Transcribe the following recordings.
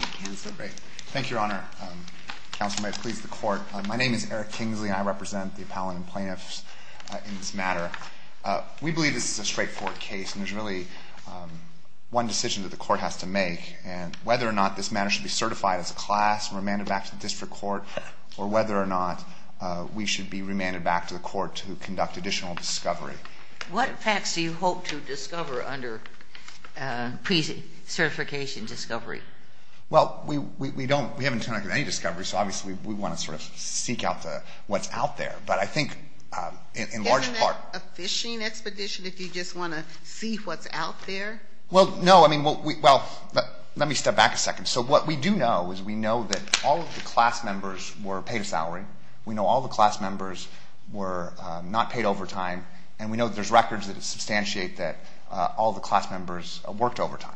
Thank you, Your Honor. My name is Eric Kingsley, and I represent the appellant and plaintiffs in this matter. We believe this is a straightforward case, and there's really one decision that the court has to make, and whether or not this matter should be certified as a class and remanded back to the district court, or whether or not we should be remanded back to the court to conduct additional discovery. What facts do you hope to discover under pre-certification discovery? Well, we haven't done any discovery, so obviously we want to sort of seek out what's out there, but I think in large part Isn't that a fishing expedition if you just want to see what's out there? Well, no. I mean, well, let me step back a second. So what we do know is we know that all of the class members were paid a salary. We know all of the class members were not paid overtime. And we know that there's records that substantiate that all of the class members worked overtime.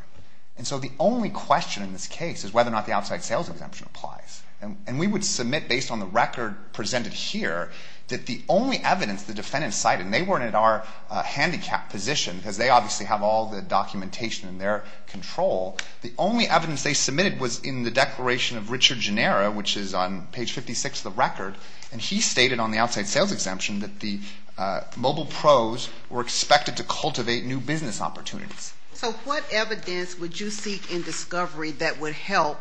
And so the only question in this case is whether or not the outside sales exemption applies. And we would submit, based on the record presented here, that the only evidence the defendants cited, and they weren't at our handicapped position because they obviously have all the documentation in their control. The only evidence they submitted was in the declaration of Richard Genera, which is on page 56 of the record. And he stated on the outside sales exemption that the mobile pros were expected to cultivate new business opportunities. So what evidence would you seek in discovery that would help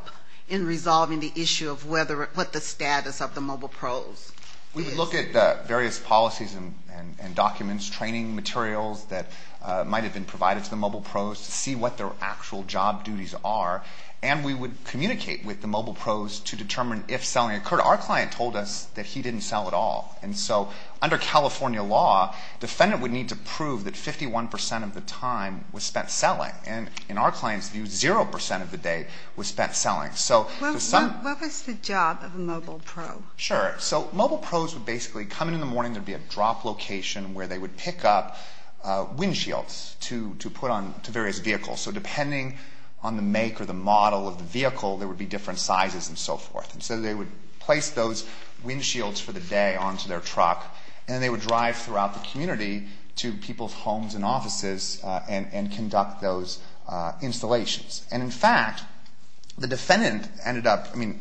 in resolving the issue of whether or what the status of the mobile pros is? We would look at various policies and documents, training materials that might have been provided to the mobile pros to see what their actual job duties are. And we would communicate with the mobile pros to determine if selling occurred. Our client told us that he didn't sell at all. And so under California law, defendant would need to prove that 51% of the time was spent selling. And in our client's view, 0% of the day was spent selling. What was the job of a mobile pro? Sure. So mobile pros would basically come in in the morning. There would be a drop location where they would pick up windshields to put on to various vehicles. So depending on the make or the model of the vehicle, there would be different sizes and so forth. And so they would place those windshields for the day onto their truck, and then they would drive throughout the community to people's homes and offices and conduct those installations. And in fact, the defendant ended up, I mean,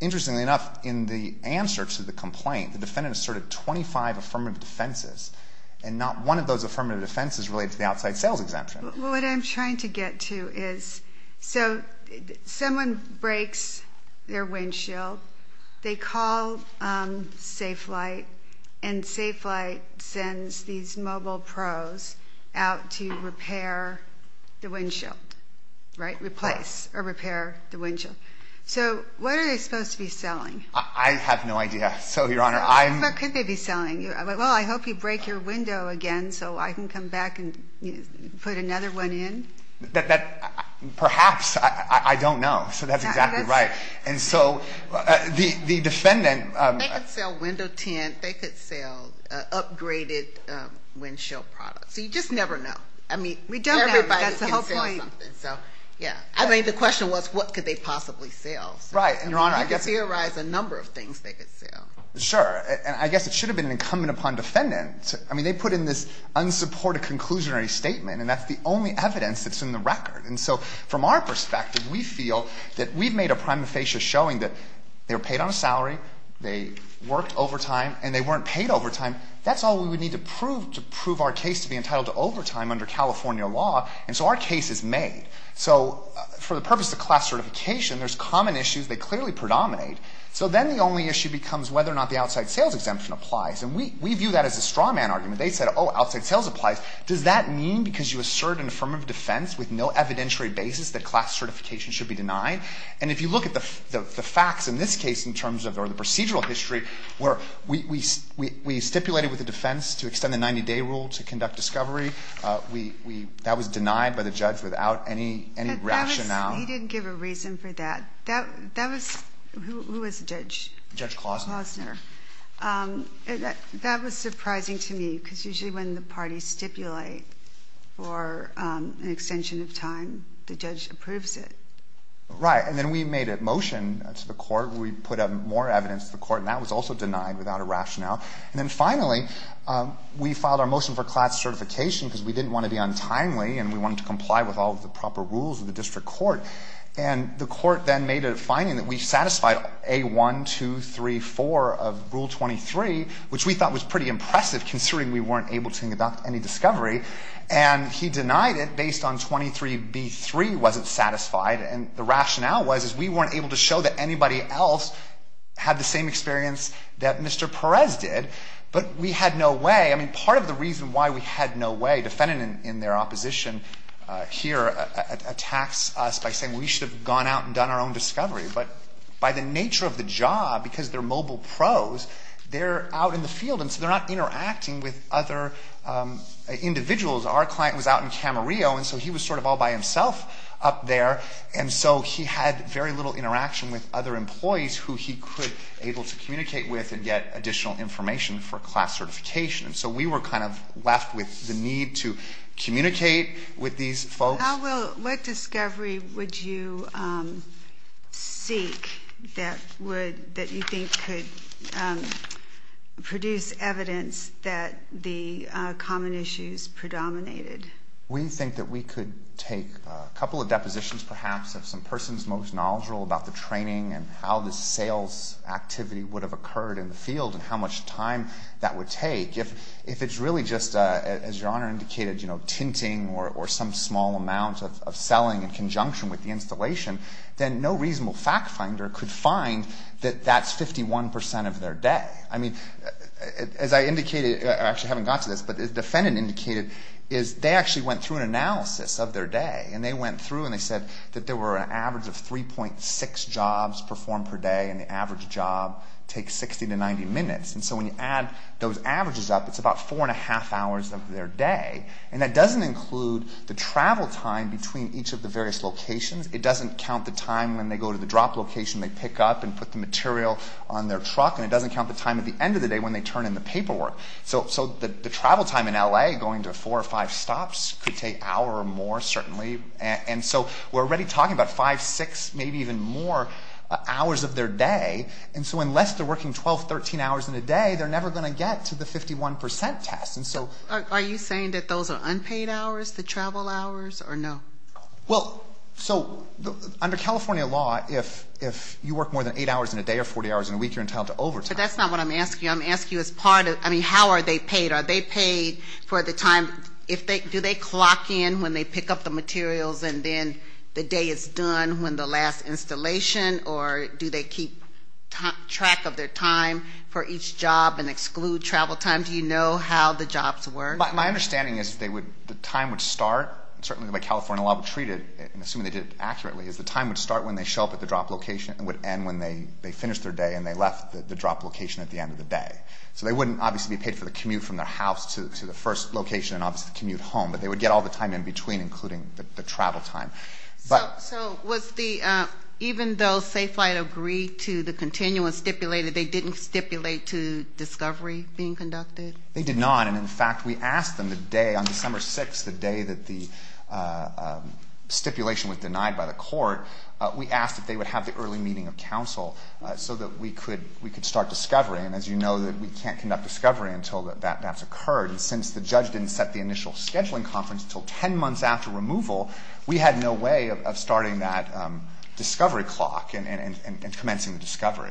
interestingly enough, in the answer to the complaint, the defendant asserted 25 affirmative defenses, and not one of those affirmative defenses related to the outside sales exemption. What I'm trying to get to is, so someone breaks their windshield. They call SafeLight, and SafeLight sends these mobile pros out to repair the windshield, right, replace or repair the windshield. So what are they supposed to be selling? I have no idea. So, Your Honor, I'm. What could they be selling? Well, I hope you break your window again so I can come back and put another one in. Perhaps. I don't know. So that's exactly right. And so the defendant. They could sell window tint. They could sell upgraded windshield products. So you just never know. I mean, we don't know. Everybody can sell something. That's the whole point. So, yeah. I mean, the question was, what could they possibly sell? Right. Your Honor, I guess. You could theorize a number of things they could sell. Sure. And I guess it should have been an incumbent upon defendant. I mean, they put in this unsupported conclusionary statement, and that's the only evidence that's in the record. And so from our perspective, we feel that we've made a prima facie showing that they were paid on a salary, they worked overtime, and they weren't paid overtime. That's all we would need to prove to prove our case to be entitled to overtime under California law. And so our case is made. So for the purpose of class certification, there's common issues that clearly predominate. So then the only issue becomes whether or not the outside sales exemption applies. And we view that as a straw man argument. They said, oh, outside sales applies. Does that mean because you assert an affirmative defense with no evidentiary basis that class certification should be denied? And if you look at the facts in this case in terms of the procedural history where we stipulated with the defense to extend the 90-day rule to conduct discovery, that was denied by the judge without any rationale. He didn't give a reason for that. That was – who was the judge? Judge Klausner. Klausner. That was surprising to me because usually when the parties stipulate for an extension of time, the judge approves it. Right. And then we made a motion to the court where we put up more evidence to the court, and that was also denied without a rationale. And then finally, we filed our motion for class certification because we didn't want to be untimely and we wanted to comply with all of the proper rules of the district court. And the court then made a finding that we satisfied A-1, 2, 3, 4 of Rule 23, which we thought was pretty impressive considering we weren't able to conduct any discovery. And he denied it based on 23B-3 wasn't satisfied. And the rationale was, is we weren't able to show that anybody else had the same experience that Mr. Perez did. But we had no way – I mean, part of the reason why we had no way, defending in their opposition here, attacks us by saying we should have gone out and done our own discovery. But by the nature of the job, because they're mobile pros, they're out in the field and so they're not interacting with other individuals. Our client was out in Camarillo, and so he was sort of all by himself up there. And so he had very little interaction with other employees who he could – able to communicate with and get additional information for class certification. And so we were kind of left with the need to communicate with these folks. How will – what discovery would you seek that would – that you think could produce evidence that the common issues predominated? We think that we could take a couple of depositions, perhaps, of some persons most knowledgeable about the training and how the sales activity would have occurred in the field and how much time that would take. If it's really just, as Your Honor indicated, tinting or some small amount of selling in conjunction with the installation, then no reasonable fact finder could find that that's 51 percent of their day. I mean, as I indicated – I actually haven't got to this, but as the defendant indicated, is they actually went through an analysis of their day. And they went through and they said that there were an average of 3.6 jobs performed per day and the average job takes 60 to 90 minutes. And so when you add those averages up, it's about four and a half hours of their day. And that doesn't include the travel time between each of the various locations. It doesn't count the time when they go to the drop location, they pick up and put the material on their truck. And it doesn't count the time at the end of the day when they turn in the paperwork. So the travel time in L.A., going to four or five stops, could take an hour or more, certainly. And so we're already talking about five, six, maybe even more hours of their day. And so unless they're working 12, 13 hours in a day, they're never going to get to the 51 percent test. And so – Are you saying that those are unpaid hours, the travel hours, or no? Well, so under California law, if you work more than eight hours in a day or 40 hours in a week, you're entitled to overtime. But that's not what I'm asking. I'm asking you as part of – I mean, how are they paid? Are they paid for the time – do they clock in when they pick up the materials and then the day is done when the last installation? Or do they keep track of their time for each job and exclude travel time? Do you know how the jobs work? My understanding is they would – the time would start, certainly the way California law would treat it, and assuming they did it accurately, is the time would start when they show up at the drop location and would end when they finished their day and they left the drop location at the end of the day. So they wouldn't obviously be paid for the commute from their house to the first location and obviously the commute home. But they would get all the time in between, including the travel time. So was the – even though Safe Flight agreed to the continuum stipulated, they didn't stipulate to discovery being conducted? They did not. And in fact, we asked them the day – on December 6th, the day that the stipulation was denied by the court, we asked if they would have the early meeting of counsel so that we could start discovery. And as you know, we can't conduct discovery until that's occurred. And since the judge didn't set the initial scheduling conference until 10 months after removal, we had no way of starting that discovery clock and commencing the discovery.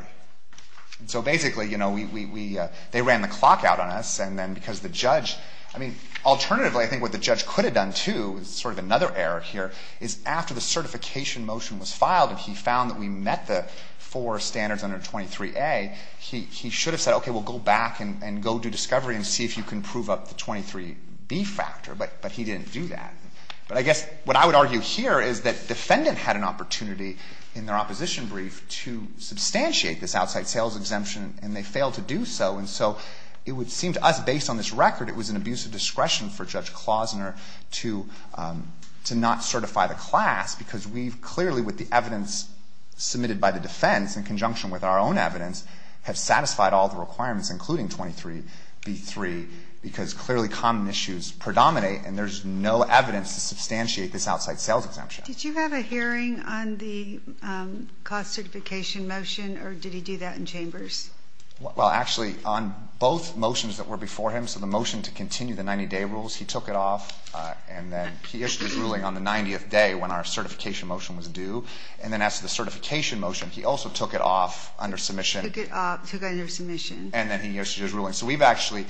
So basically, you know, we – they ran the clock out on us. And then because the judge – I mean, alternatively, I think what the judge could have done too, sort of another error here, is after the certification motion was filed and he found that we met the four standards under 23A, he should have said, okay, we'll go back and go do discovery and see if you can prove up the 23B factor. But he didn't do that. But I guess what I would argue here is that the defendant had an opportunity in their opposition brief to substantiate this outside sales exemption, and they failed to do so. And so it would seem to us, based on this record, it was an abuse of discretion for Judge Klausner to not certify the class because we've clearly, with the evidence submitted by the defense in conjunction with our own evidence, have satisfied all the requirements, including 23B3, because clearly common issues predominate, and there's no evidence to substantiate this outside sales exemption. Did you have a hearing on the class certification motion, or did he do that in chambers? Well, actually, on both motions that were before him, so the motion to continue the 90-day rules, he took it off, and then he issued his ruling on the 90th day when our certification motion was due. And then as to the certification motion, he also took it off under submission. Took it off, took it under submission. And then he issued his ruling. So we've actually,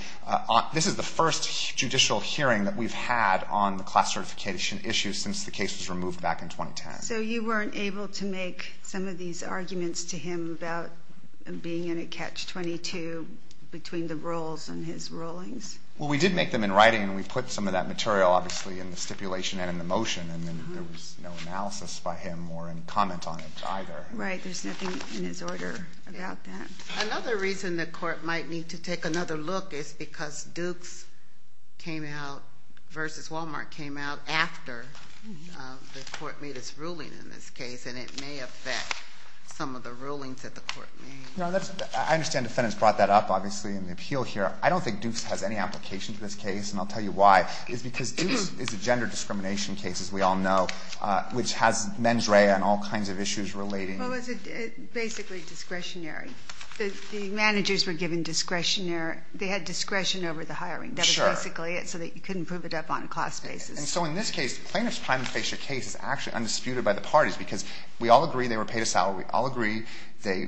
this is the first judicial hearing that we've had on the class certification issue since the case was removed back in 2010. So you weren't able to make some of these arguments to him about being in a catch-22 between the rules and his rulings? Well, we did make them in writing, and we put some of that material, obviously, in the stipulation and in the motion, and then there was no analysis by him or any comment on it either. Right. There's nothing in his order about that. Another reason the court might need to take another look is because Dukes came out versus Wal-Mart came out after the court made its ruling in this case, and it may affect some of the rulings that the court made. I understand defendants brought that up, obviously, in the appeal here. I don't think Dukes has any application to this case, and I'll tell you why. It's because Dukes is a gender discrimination case, as we all know, which has mens rea and all kinds of issues relating. Well, it was basically discretionary. The managers were given discretionary. They had discretion over the hiring. Sure. That was basically it so that you couldn't prove it up on a class basis. And so in this case, the plaintiff's time to face your case is actually undisputed by the parties because we all agree they were paid a salary. We all agree they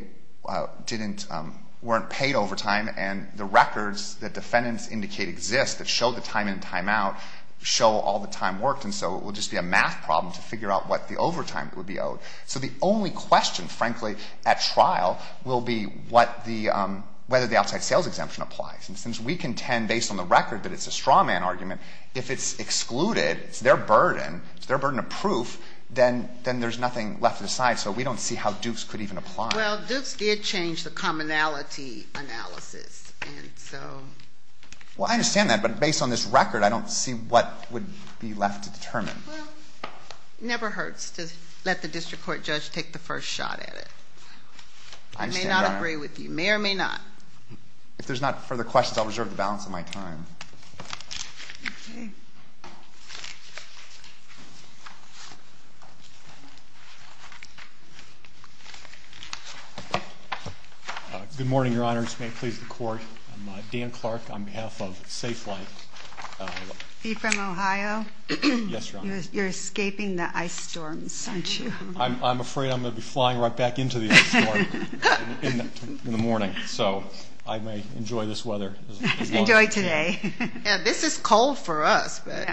weren't paid overtime, and the records that defendants indicate exist that show the time in and time out show all the time worked, and so it would just be a math problem to figure out what the overtime would be owed. So the only question, frankly, at trial, will be whether the outside sales exemption applies. And since we contend, based on the record, that it's a straw man argument, if it's excluded, it's their burden, it's their burden of proof, then there's nothing left to decide. So we don't see how Dukes could even apply. Well, Dukes did change the commonality analysis, and so... Well, I understand that, but based on this record, I don't see what would be left to determine. Well, it never hurts to let the district court judge take the first shot at it. I may not agree with you. May or may not. If there's not further questions, I'll reserve the balance of my time. Good morning, Your Honors. May it please the Court. I'm Dan Clark on behalf of Safe Life. Are you from Ohio? Yes, Your Honors. You're escaping the ice storms, aren't you? I'm afraid I'm going to be flying right back into the ice storm in the morning, so I may enjoy this weather as long as I can. Enjoy today. Yeah, this is cold for us, but...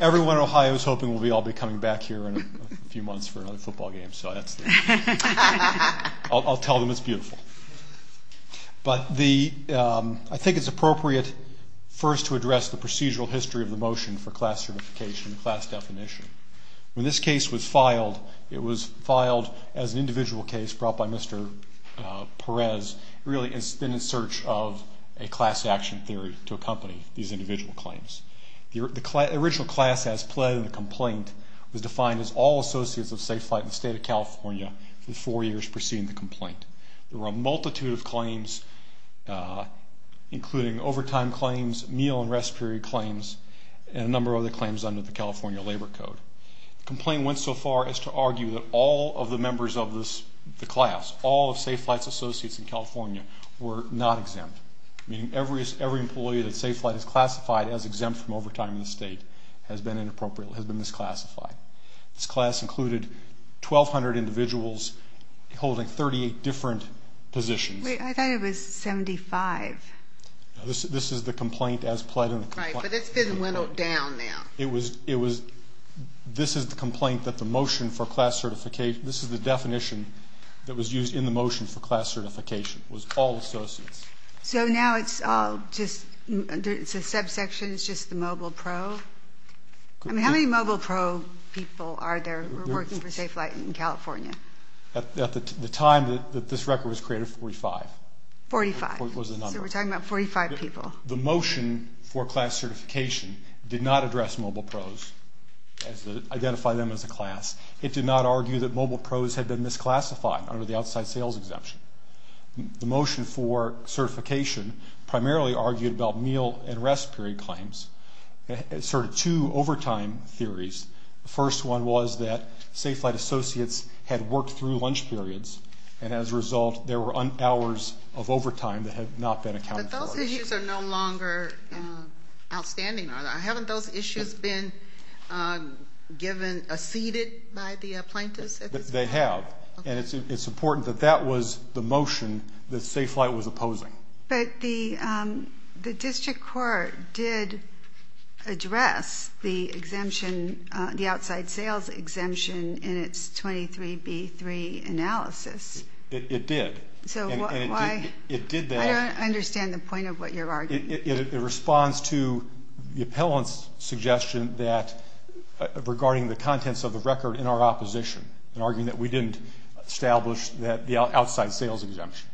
Everyone in Ohio is hoping we'll all be coming back here in a few months for another football game, so that's the... I'll tell them it's beautiful. But I think it's appropriate first to address the procedural history of the motion for class certification and class definition. When this case was filed, it was filed as an individual case brought by Mr. Perez. It really has been in search of a class action theory to accompany these individual claims. The original class as pled in the complaint was defined as all associates of Safe Flight in the State of California for the four years preceding the complaint. There were a multitude of claims, including overtime claims, meal and rest period claims, and a number of other claims under the California Labor Code. The complaint went so far as to argue that all of the members of the class, all of Safe Flight's associates in California, were not exempt, meaning every employee that Safe Flight has classified as exempt from overtime in the state has been misclassified. This class included 1,200 individuals holding 38 different positions. Wait, I thought it was 75. This is the complaint as pled in the complaint. Right, but it's been whittled down now. This is the complaint that the motion for class certification, this is the definition that was used in the motion for class certification, was all associates. So now it's all just, it's a subsection, it's just the mobile pro? I mean, how many mobile pro people are there working for Safe Flight in California? At the time that this record was created, 45. 45, so we're talking about 45 people. The motion for class certification did not address mobile pros, identify them as a class. It did not argue that mobile pros had been misclassified under the outside sales exemption. The motion for certification primarily argued about meal and rest period claims. It asserted two overtime theories. The first one was that Safe Flight associates had worked through lunch periods, and as a result there were hours of overtime that had not been accounted for. But those issues are no longer outstanding, are they? Haven't those issues been given, acceded by the plaintiffs? They have. And it's important that that was the motion that Safe Flight was opposing. But the district court did address the exemption, the outside sales exemption in its 23B3 analysis. It did. So why? It did that. I don't understand the point of what you're arguing. It responds to the appellant's suggestion that, regarding the contents of the record in our opposition, in arguing that we didn't establish the outside sales exemption.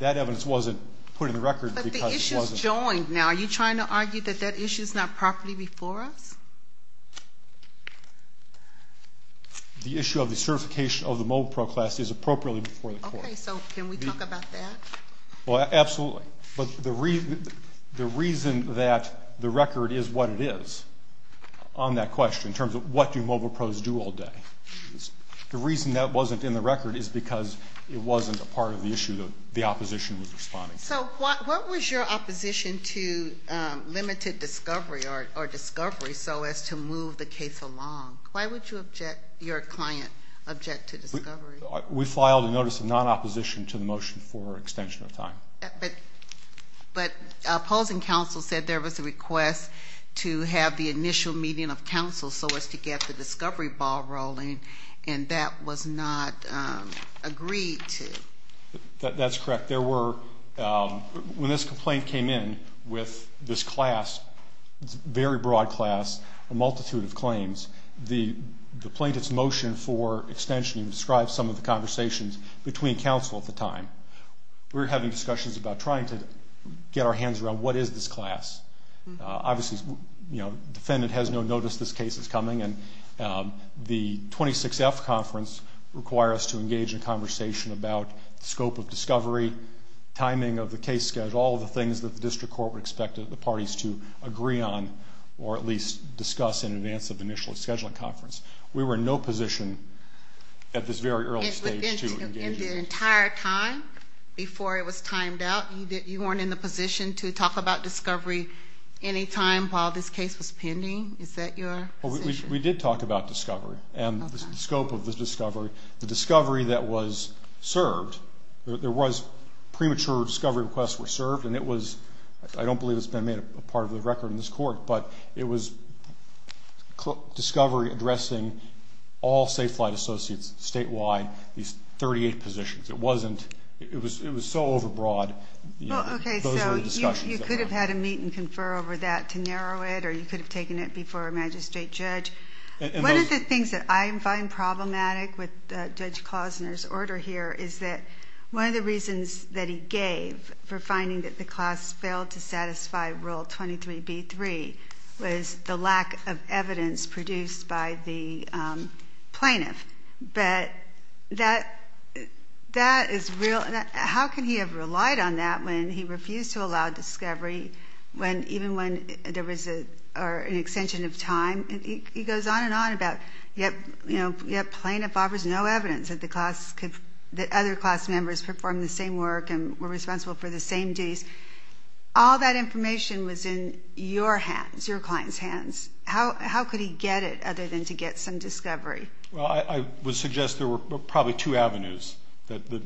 That evidence wasn't put in the record because it wasn't. But the issue is joined now. Are you trying to argue that that issue is not properly before us? The issue of the certification of the mobile pro class is appropriately before the court. Okay. So can we talk about that? Well, absolutely. But the reason that the record is what it is on that question, in terms of what do mobile pros do all day, the reason that wasn't in the record is because it wasn't a part of the issue the opposition was responding to. So what was your opposition to limited discovery or discovery so as to move the case along? Why would you object, your client object to discovery? We filed a notice of non-opposition to the motion for extension of time. But opposing counsel said there was a request to have the initial meeting of counsel so as to get the discovery ball rolling, and that was not agreed to. That's correct. When this complaint came in with this class, very broad class, a multitude of claims, the plaintiff's motion for extension described some of the conversations between counsel at the time. We were having discussions about trying to get our hands around what is this class. Obviously, the defendant has no notice this case is coming, and the 26F conference requires us to engage in a conversation about the scope of discovery, timing of the case schedule, all of the things that the district court would expect the parties to agree on or at least discuss in advance of the initial scheduling conference. We were in no position at this very early stage to engage in that. Within the entire time before it was timed out, you weren't in the position to talk about discovery any time while this case was pending? Is that your position? We did talk about discovery and the scope of the discovery. The discovery that was served, there was premature discovery requests were served, and it was, I don't believe it's been made a part of the record in this court, but it was discovery addressing all Safe Flight Associates statewide, these 38 positions. It wasn't. It was so overbroad. Okay, so you could have had a meet and confer over that to narrow it, or you could have taken it before a magistrate judge. One of the things that I find problematic with Judge Klozner's order here is that one of the reasons that he gave for finding that the class failed to satisfy Rule 23b-3 was the lack of evidence produced by the plaintiff. But that is real. How can he have relied on that when he refused to allow discovery even when there was an extension of time? He goes on and on about yet plaintiff offers no evidence that the other class members performed the same work and were responsible for the same duties. All that information was in your hands, your client's hands. Well, I would suggest there were probably two avenues that the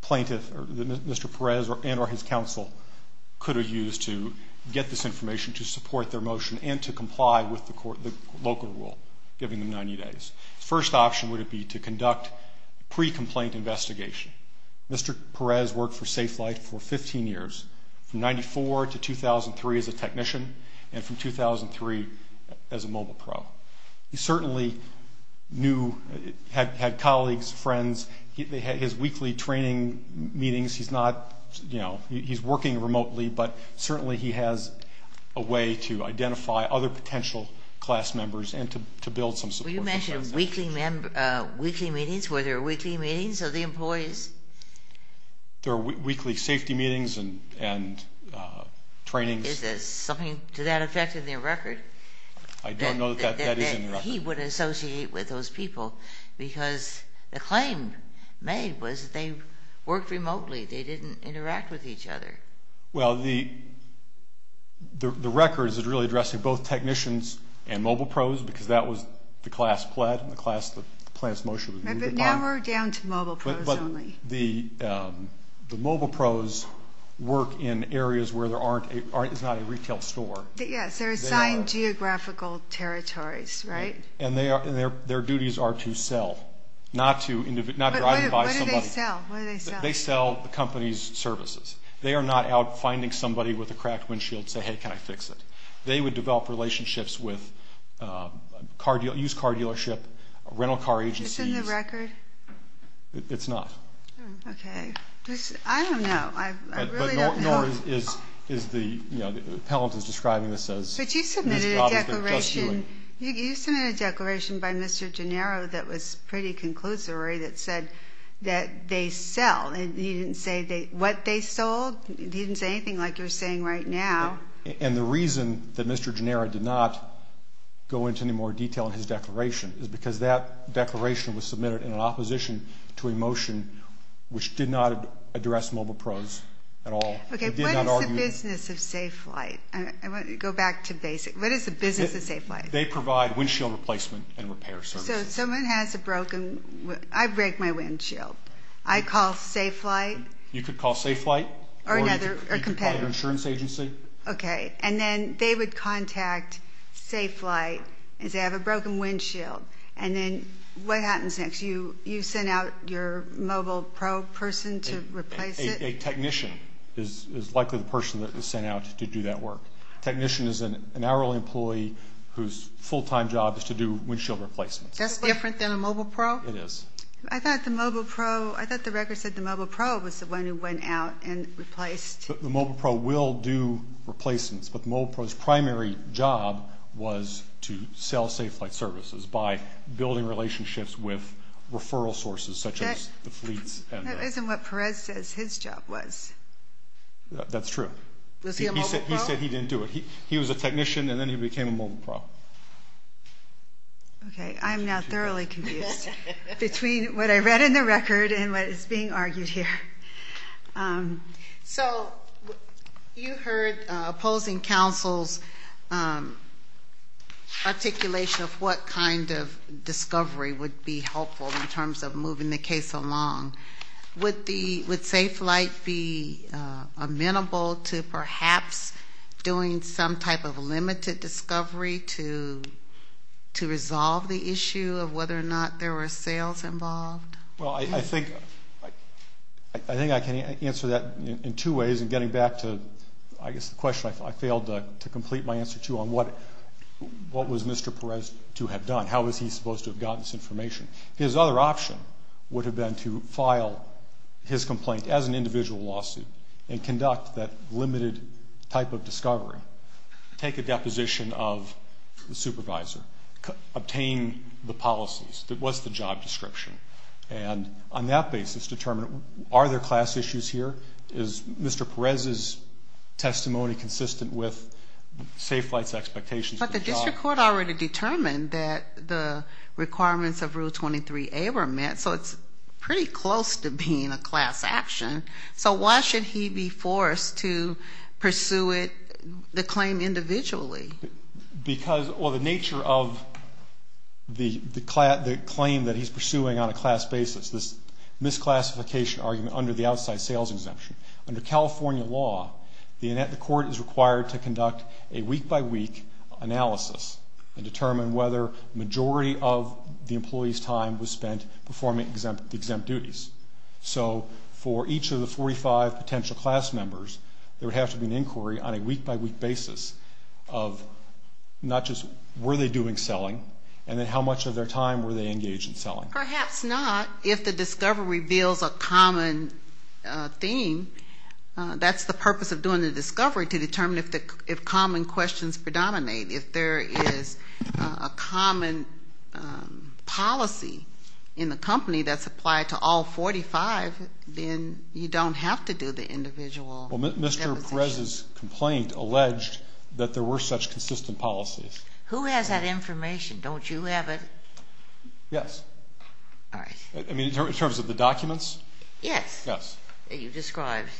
plaintiff or Mr. Perez and or his counsel could have used to get this information to support their motion and to comply with the local rule, giving them 90 days. First option would be to conduct pre-complaint investigation. Mr. Perez worked for Safe Flight for 15 years, from 94 to 2003 as a technician, and from 2003 as a mobile pro. He certainly had colleagues, friends. They had his weekly training meetings. He's working remotely, but certainly he has a way to identify other potential class members and to build some support. Will you mention weekly meetings? Were there weekly meetings of the employees? There were weekly safety meetings and trainings. Is there something to that effect in their record? I don't know that that is in the record. He wouldn't associate with those people because the claim made was that they worked remotely. They didn't interact with each other. Well, the record is really addressing both technicians and mobile pros because that was the class pled and the class that the plaintiff's motion was moved upon. But now we're down to mobile pros only. But the mobile pros work in areas where there aren't a retail store. Yes, they're assigned geographical territories, right? And their duties are to sell, not to drive and buy somebody. But what do they sell? They sell the company's services. They are not out finding somebody with a cracked windshield and say, hey, can I fix it? They would develop relationships with used car dealership, rental car agencies. Is this in the record? It's not. Okay. I don't know. No, the appellant is describing this as these jobs that they're just doing. But you submitted a declaration by Mr. Gennaro that was pretty conclusory that said that they sell. You didn't say what they sold. You didn't say anything like you're saying right now. And the reason that Mr. Gennaro did not go into any more detail in his declaration is because that declaration was submitted in opposition to a motion which did not address mobile pros at all. Okay. What is the business of Safe Flight? Go back to basic. What is the business of Safe Flight? They provide windshield replacement and repair services. So if someone has a broken one, I break my windshield. I call Safe Flight. You could call Safe Flight. Or another competitor. Or you could call your insurance agency. Okay. And then they would contact Safe Flight and say I have a broken windshield. And then what happens next? You send out your mobile pro person to replace it? A technician is likely the person that is sent out to do that work. A technician is an hourly employee whose full-time job is to do windshield replacements. That's different than a mobile pro? It is. I thought the mobile pro, I thought the record said the mobile pro was the one who went out and replaced. The mobile pro will do replacements, but the mobile pro's primary job was to sell Safe Flight services by building relationships with referral sources such as the fleets. That isn't what Perez says his job was. That's true. Was he a mobile pro? He said he didn't do it. He was a technician and then he became a mobile pro. Okay. I am now thoroughly confused between what I read in the record and what is being argued here. So you heard opposing counsel's articulation of what kind of discovery would be helpful in terms of moving the case along. Would Safe Flight be amenable to perhaps doing some type of limited discovery to resolve the issue of whether or not there were sales involved? Well, I think I can answer that in two ways in getting back to, I guess, the question I failed to complete my answer to on what was Mr. Perez to have done. How was he supposed to have gotten this information? His other option would have been to file his complaint as an individual lawsuit and conduct that limited type of discovery, take a deposition of the supervisor, obtain the policies. What's the job description? And on that basis, determine are there class issues here? Is Mr. Perez's testimony consistent with Safe Flight's expectations for the job? But the district court already determined that the requirements of Rule 23A were met, so it's pretty close to being a class action. So why should he be forced to pursue the claim individually? Because of the nature of the claim that he's pursuing on a class basis, this misclassification argument under the outside sales exemption. Under California law, the court is required to conduct a week-by-week analysis and determine whether the majority of the employee's time was spent performing exempt duties. So for each of the 45 potential class members, there would have to be an inquiry on a week-by-week basis of not just were they doing selling and then how much of their time were they engaged in selling. Perhaps not. If the discovery reveals a common theme, that's the purpose of doing the discovery, to determine if common questions predominate. If there is a common policy in the company that's applied to all 45, then you don't have to do the individual deposition. Well, Mr. Perez's complaint alleged that there were such consistent policies. Who has that information? Don't you have it? Yes. All right. I mean, in terms of the documents? Yes. Yes. That you described.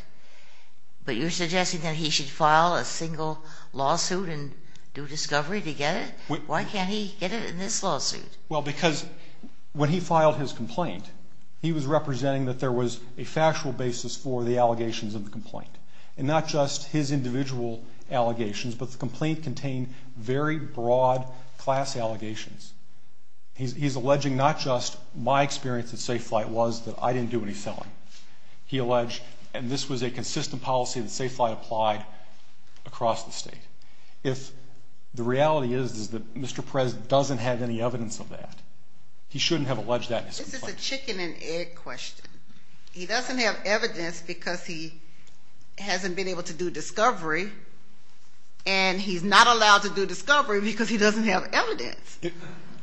But you're suggesting that he should file a single lawsuit and do discovery to get it? Why can't he get it in this lawsuit? Well, because when he filed his complaint, he was representing that there was a factual basis for the allegations in the complaint, and not just his individual allegations, but the complaint contained very broad class allegations. He's alleging not just my experience at Safe Flight was that I didn't do any selling. He alleged, and this was a consistent policy that Safe Flight applied across the state. The reality is that Mr. Perez doesn't have any evidence of that. He shouldn't have alleged that in his complaint. This is a chicken and egg question. He doesn't have evidence because he hasn't been able to do discovery, and he's not allowed to do discovery because he doesn't have evidence.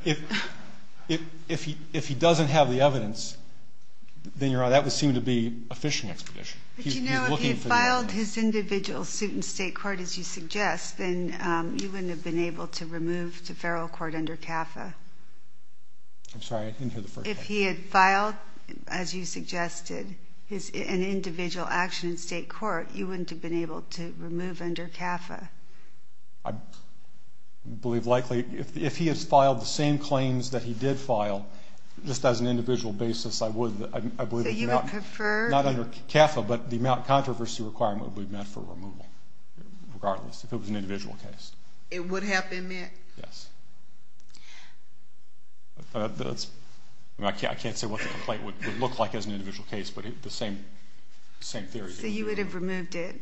If he doesn't have the evidence, then that would seem to be a fishing expedition. But, you know, if he had filed his individual suit in state court, as you suggest, then you wouldn't have been able to remove to federal court under CAFA. I'm sorry. I didn't hear the first part. If he had filed, as you suggested, an individual action in state court, you wouldn't have been able to remove under CAFA. I believe likely if he has filed the same claims that he did file, just as an individual basis, I would. So you would prefer? Not under CAFA, but the amount of controversy requirement would be met for removal, regardless if it was an individual case. It would have been met? Yes. I can't say what the complaint would look like as an individual case, but the same theory. So you would have removed it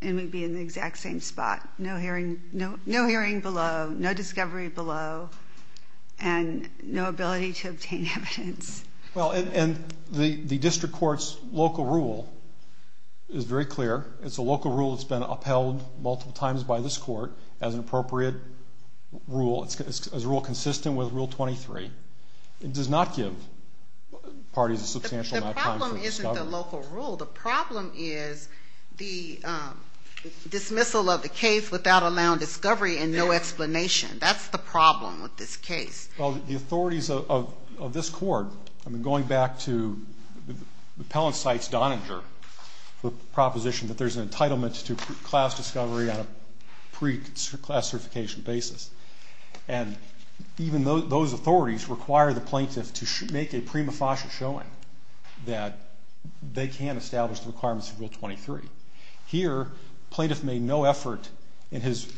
and would be in the exact same spot, no hearing below, no discovery below, and no ability to obtain evidence. Well, and the district court's local rule is very clear. It's a local rule that's been upheld multiple times by this court as an appropriate rule. It's a rule consistent with Rule 23. It does not give parties a substantial amount of time for discovery. The problem isn't the local rule. The problem is the dismissal of the case without allowing discovery and no explanation. That's the problem with this case. Well, the authorities of this court, I mean, going back to Appellant Cites Donninger, the proposition that there's an entitlement to class discovery on a pre-classification basis, and even those authorities require the plaintiff to make a prima facie showing that they can establish the requirements of Rule 23. Here, plaintiff made no effort in his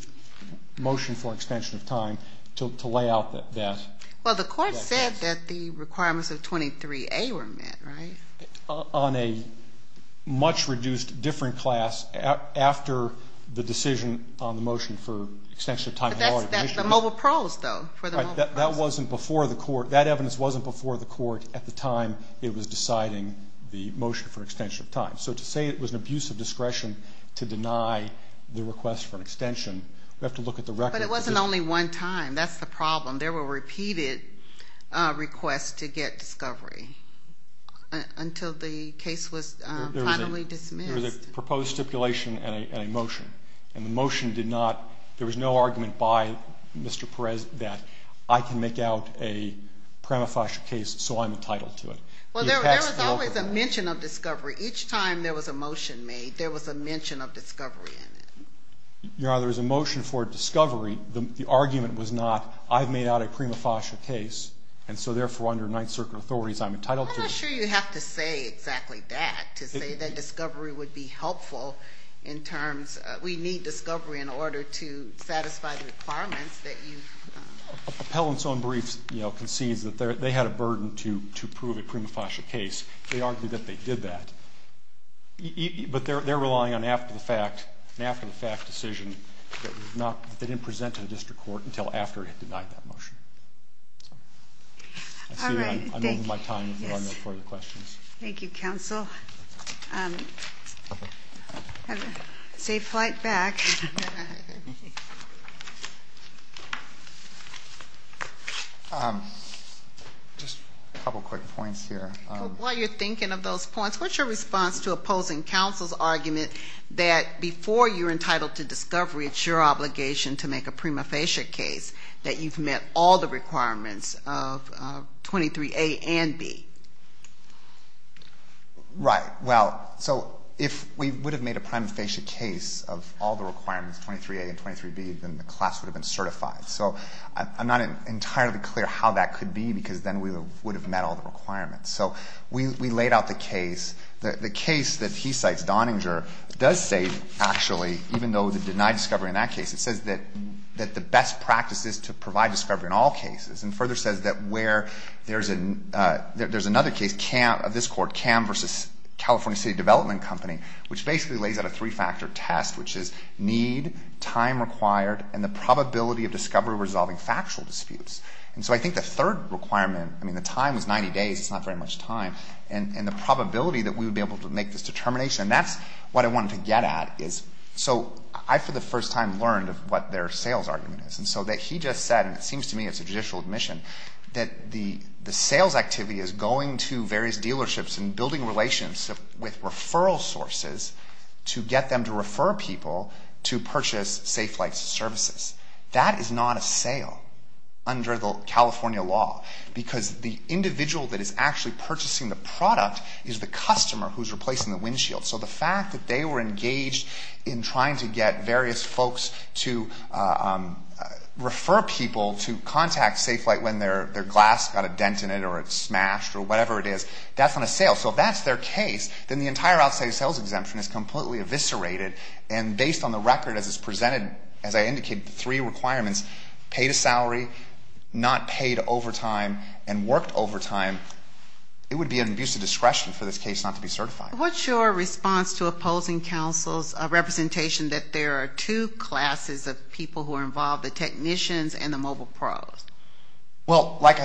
motion for extension of time to lay out that case. Well, the court said that the requirements of 23A were met, right? On a much reduced different class after the decision on the motion for extension of time. But that's the mobile pros, though, for the mobile pros. That wasn't before the court. That evidence wasn't before the court at the time it was deciding the motion for extension of time. So to say it was an abuse of discretion to deny the request for an extension, we have to look at the record. But it wasn't only one time. That's the problem. There were repeated requests to get discovery until the case was finally dismissed. There was a proposed stipulation and a motion, and the motion did not, there was no argument by Mr. Perez that I can make out a prima facie case so I'm entitled to it. Well, there was always a mention of discovery. Each time there was a motion made, there was a mention of discovery in it. You know, there was a motion for discovery. The argument was not I've made out a prima facie case, and so therefore under Ninth Circuit authorities I'm entitled to it. I'm not sure you have to say exactly that to say that discovery would be helpful in terms, we need discovery in order to satisfy the requirements that you've done. Appellant's own brief concedes that they had a burden to prove a prima facie case. They argued that they did that. But they're relying on an after-the-fact decision that they didn't present to the district court until after it had denied that motion. I'm over my time if there are no further questions. Thank you, counsel. Safe flight back. Just a couple quick points here. While you're thinking of those points, what's your response to opposing counsel's argument that before you're entitled to discovery, it's your obligation to make a prima facie case that you've met all the requirements of 23A and B? Right. Well, so if we would have made a prima facie case of all the requirements, 23A and 23B, then the class would have been certified. So I'm not entirely clear how that could be because then we would have met all the requirements. So we laid out the case. The case that he cites, Donninger, does say actually, even though it denied discovery in that case, it says that the best practice is to provide discovery in all cases and further says that where there's another case of this court, CAM versus California City Development Company, which basically lays out a three-factor test, which is need, time required, and the probability of discovery resolving factual disputes. And so I think the third requirement, I mean, the time was 90 days. It's not very much time. And the probability that we would be able to make this determination, and that's what I wanted to get at, is so I, for the first time, learned of what their sales argument is. And so he just said, and it seems to me it's a judicial admission, that the sales activity is going to various dealerships and building relations with referral sources to get them to refer people to purchase Safelite's services. That is not a sale under the California law because the individual that is actually purchasing the product is the customer who's replacing the windshield. So the fact that they were engaged in trying to get various folks to refer people to contact Safelite when their glass got a dent in it or it smashed or whatever it is, that's not a sale. So if that's their case, then the entire outside sales exemption is completely eviscerated. And based on the record as it's presented, as I indicated, the three requirements, paid a salary, not paid overtime, and worked overtime, it would be an abuse of discretion for this case not to be certified. What's your response to opposing counsel's representation that there are two classes of people who are involved, the technicians and the mobile pros? Well, like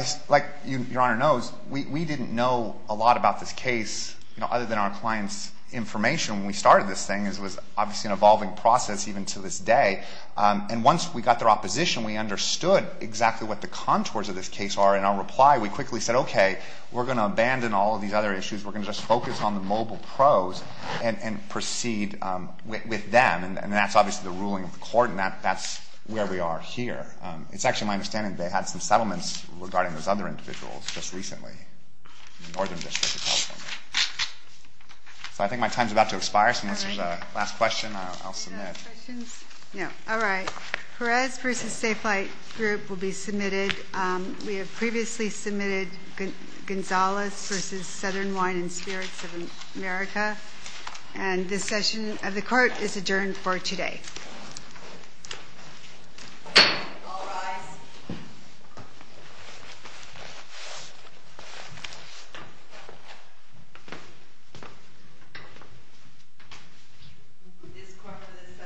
Your Honor knows, we didn't know a lot about this case other than our clients' information when we started this thing. This was obviously an evolving process even to this day. And once we got their opposition, we understood exactly what the contours of this case are. In our reply, we quickly said, okay, we're going to abandon all of these other issues. We're going to just focus on the mobile pros and proceed with them. And that's obviously the ruling of the court, and that's where we are here. It's actually my understanding they had some settlements regarding those other individuals just recently in the Northern District of California. So I think my time is about to expire, so unless there's a last question, I'll submit. Any last questions? No. All right. Perez v. Safe Flight Group will be submitted. We have previously submitted Gonzales v. Southern Wine and Spirits of America. And this session of the Court is adjourned for today. All rise. This Court for this session stands adjourned.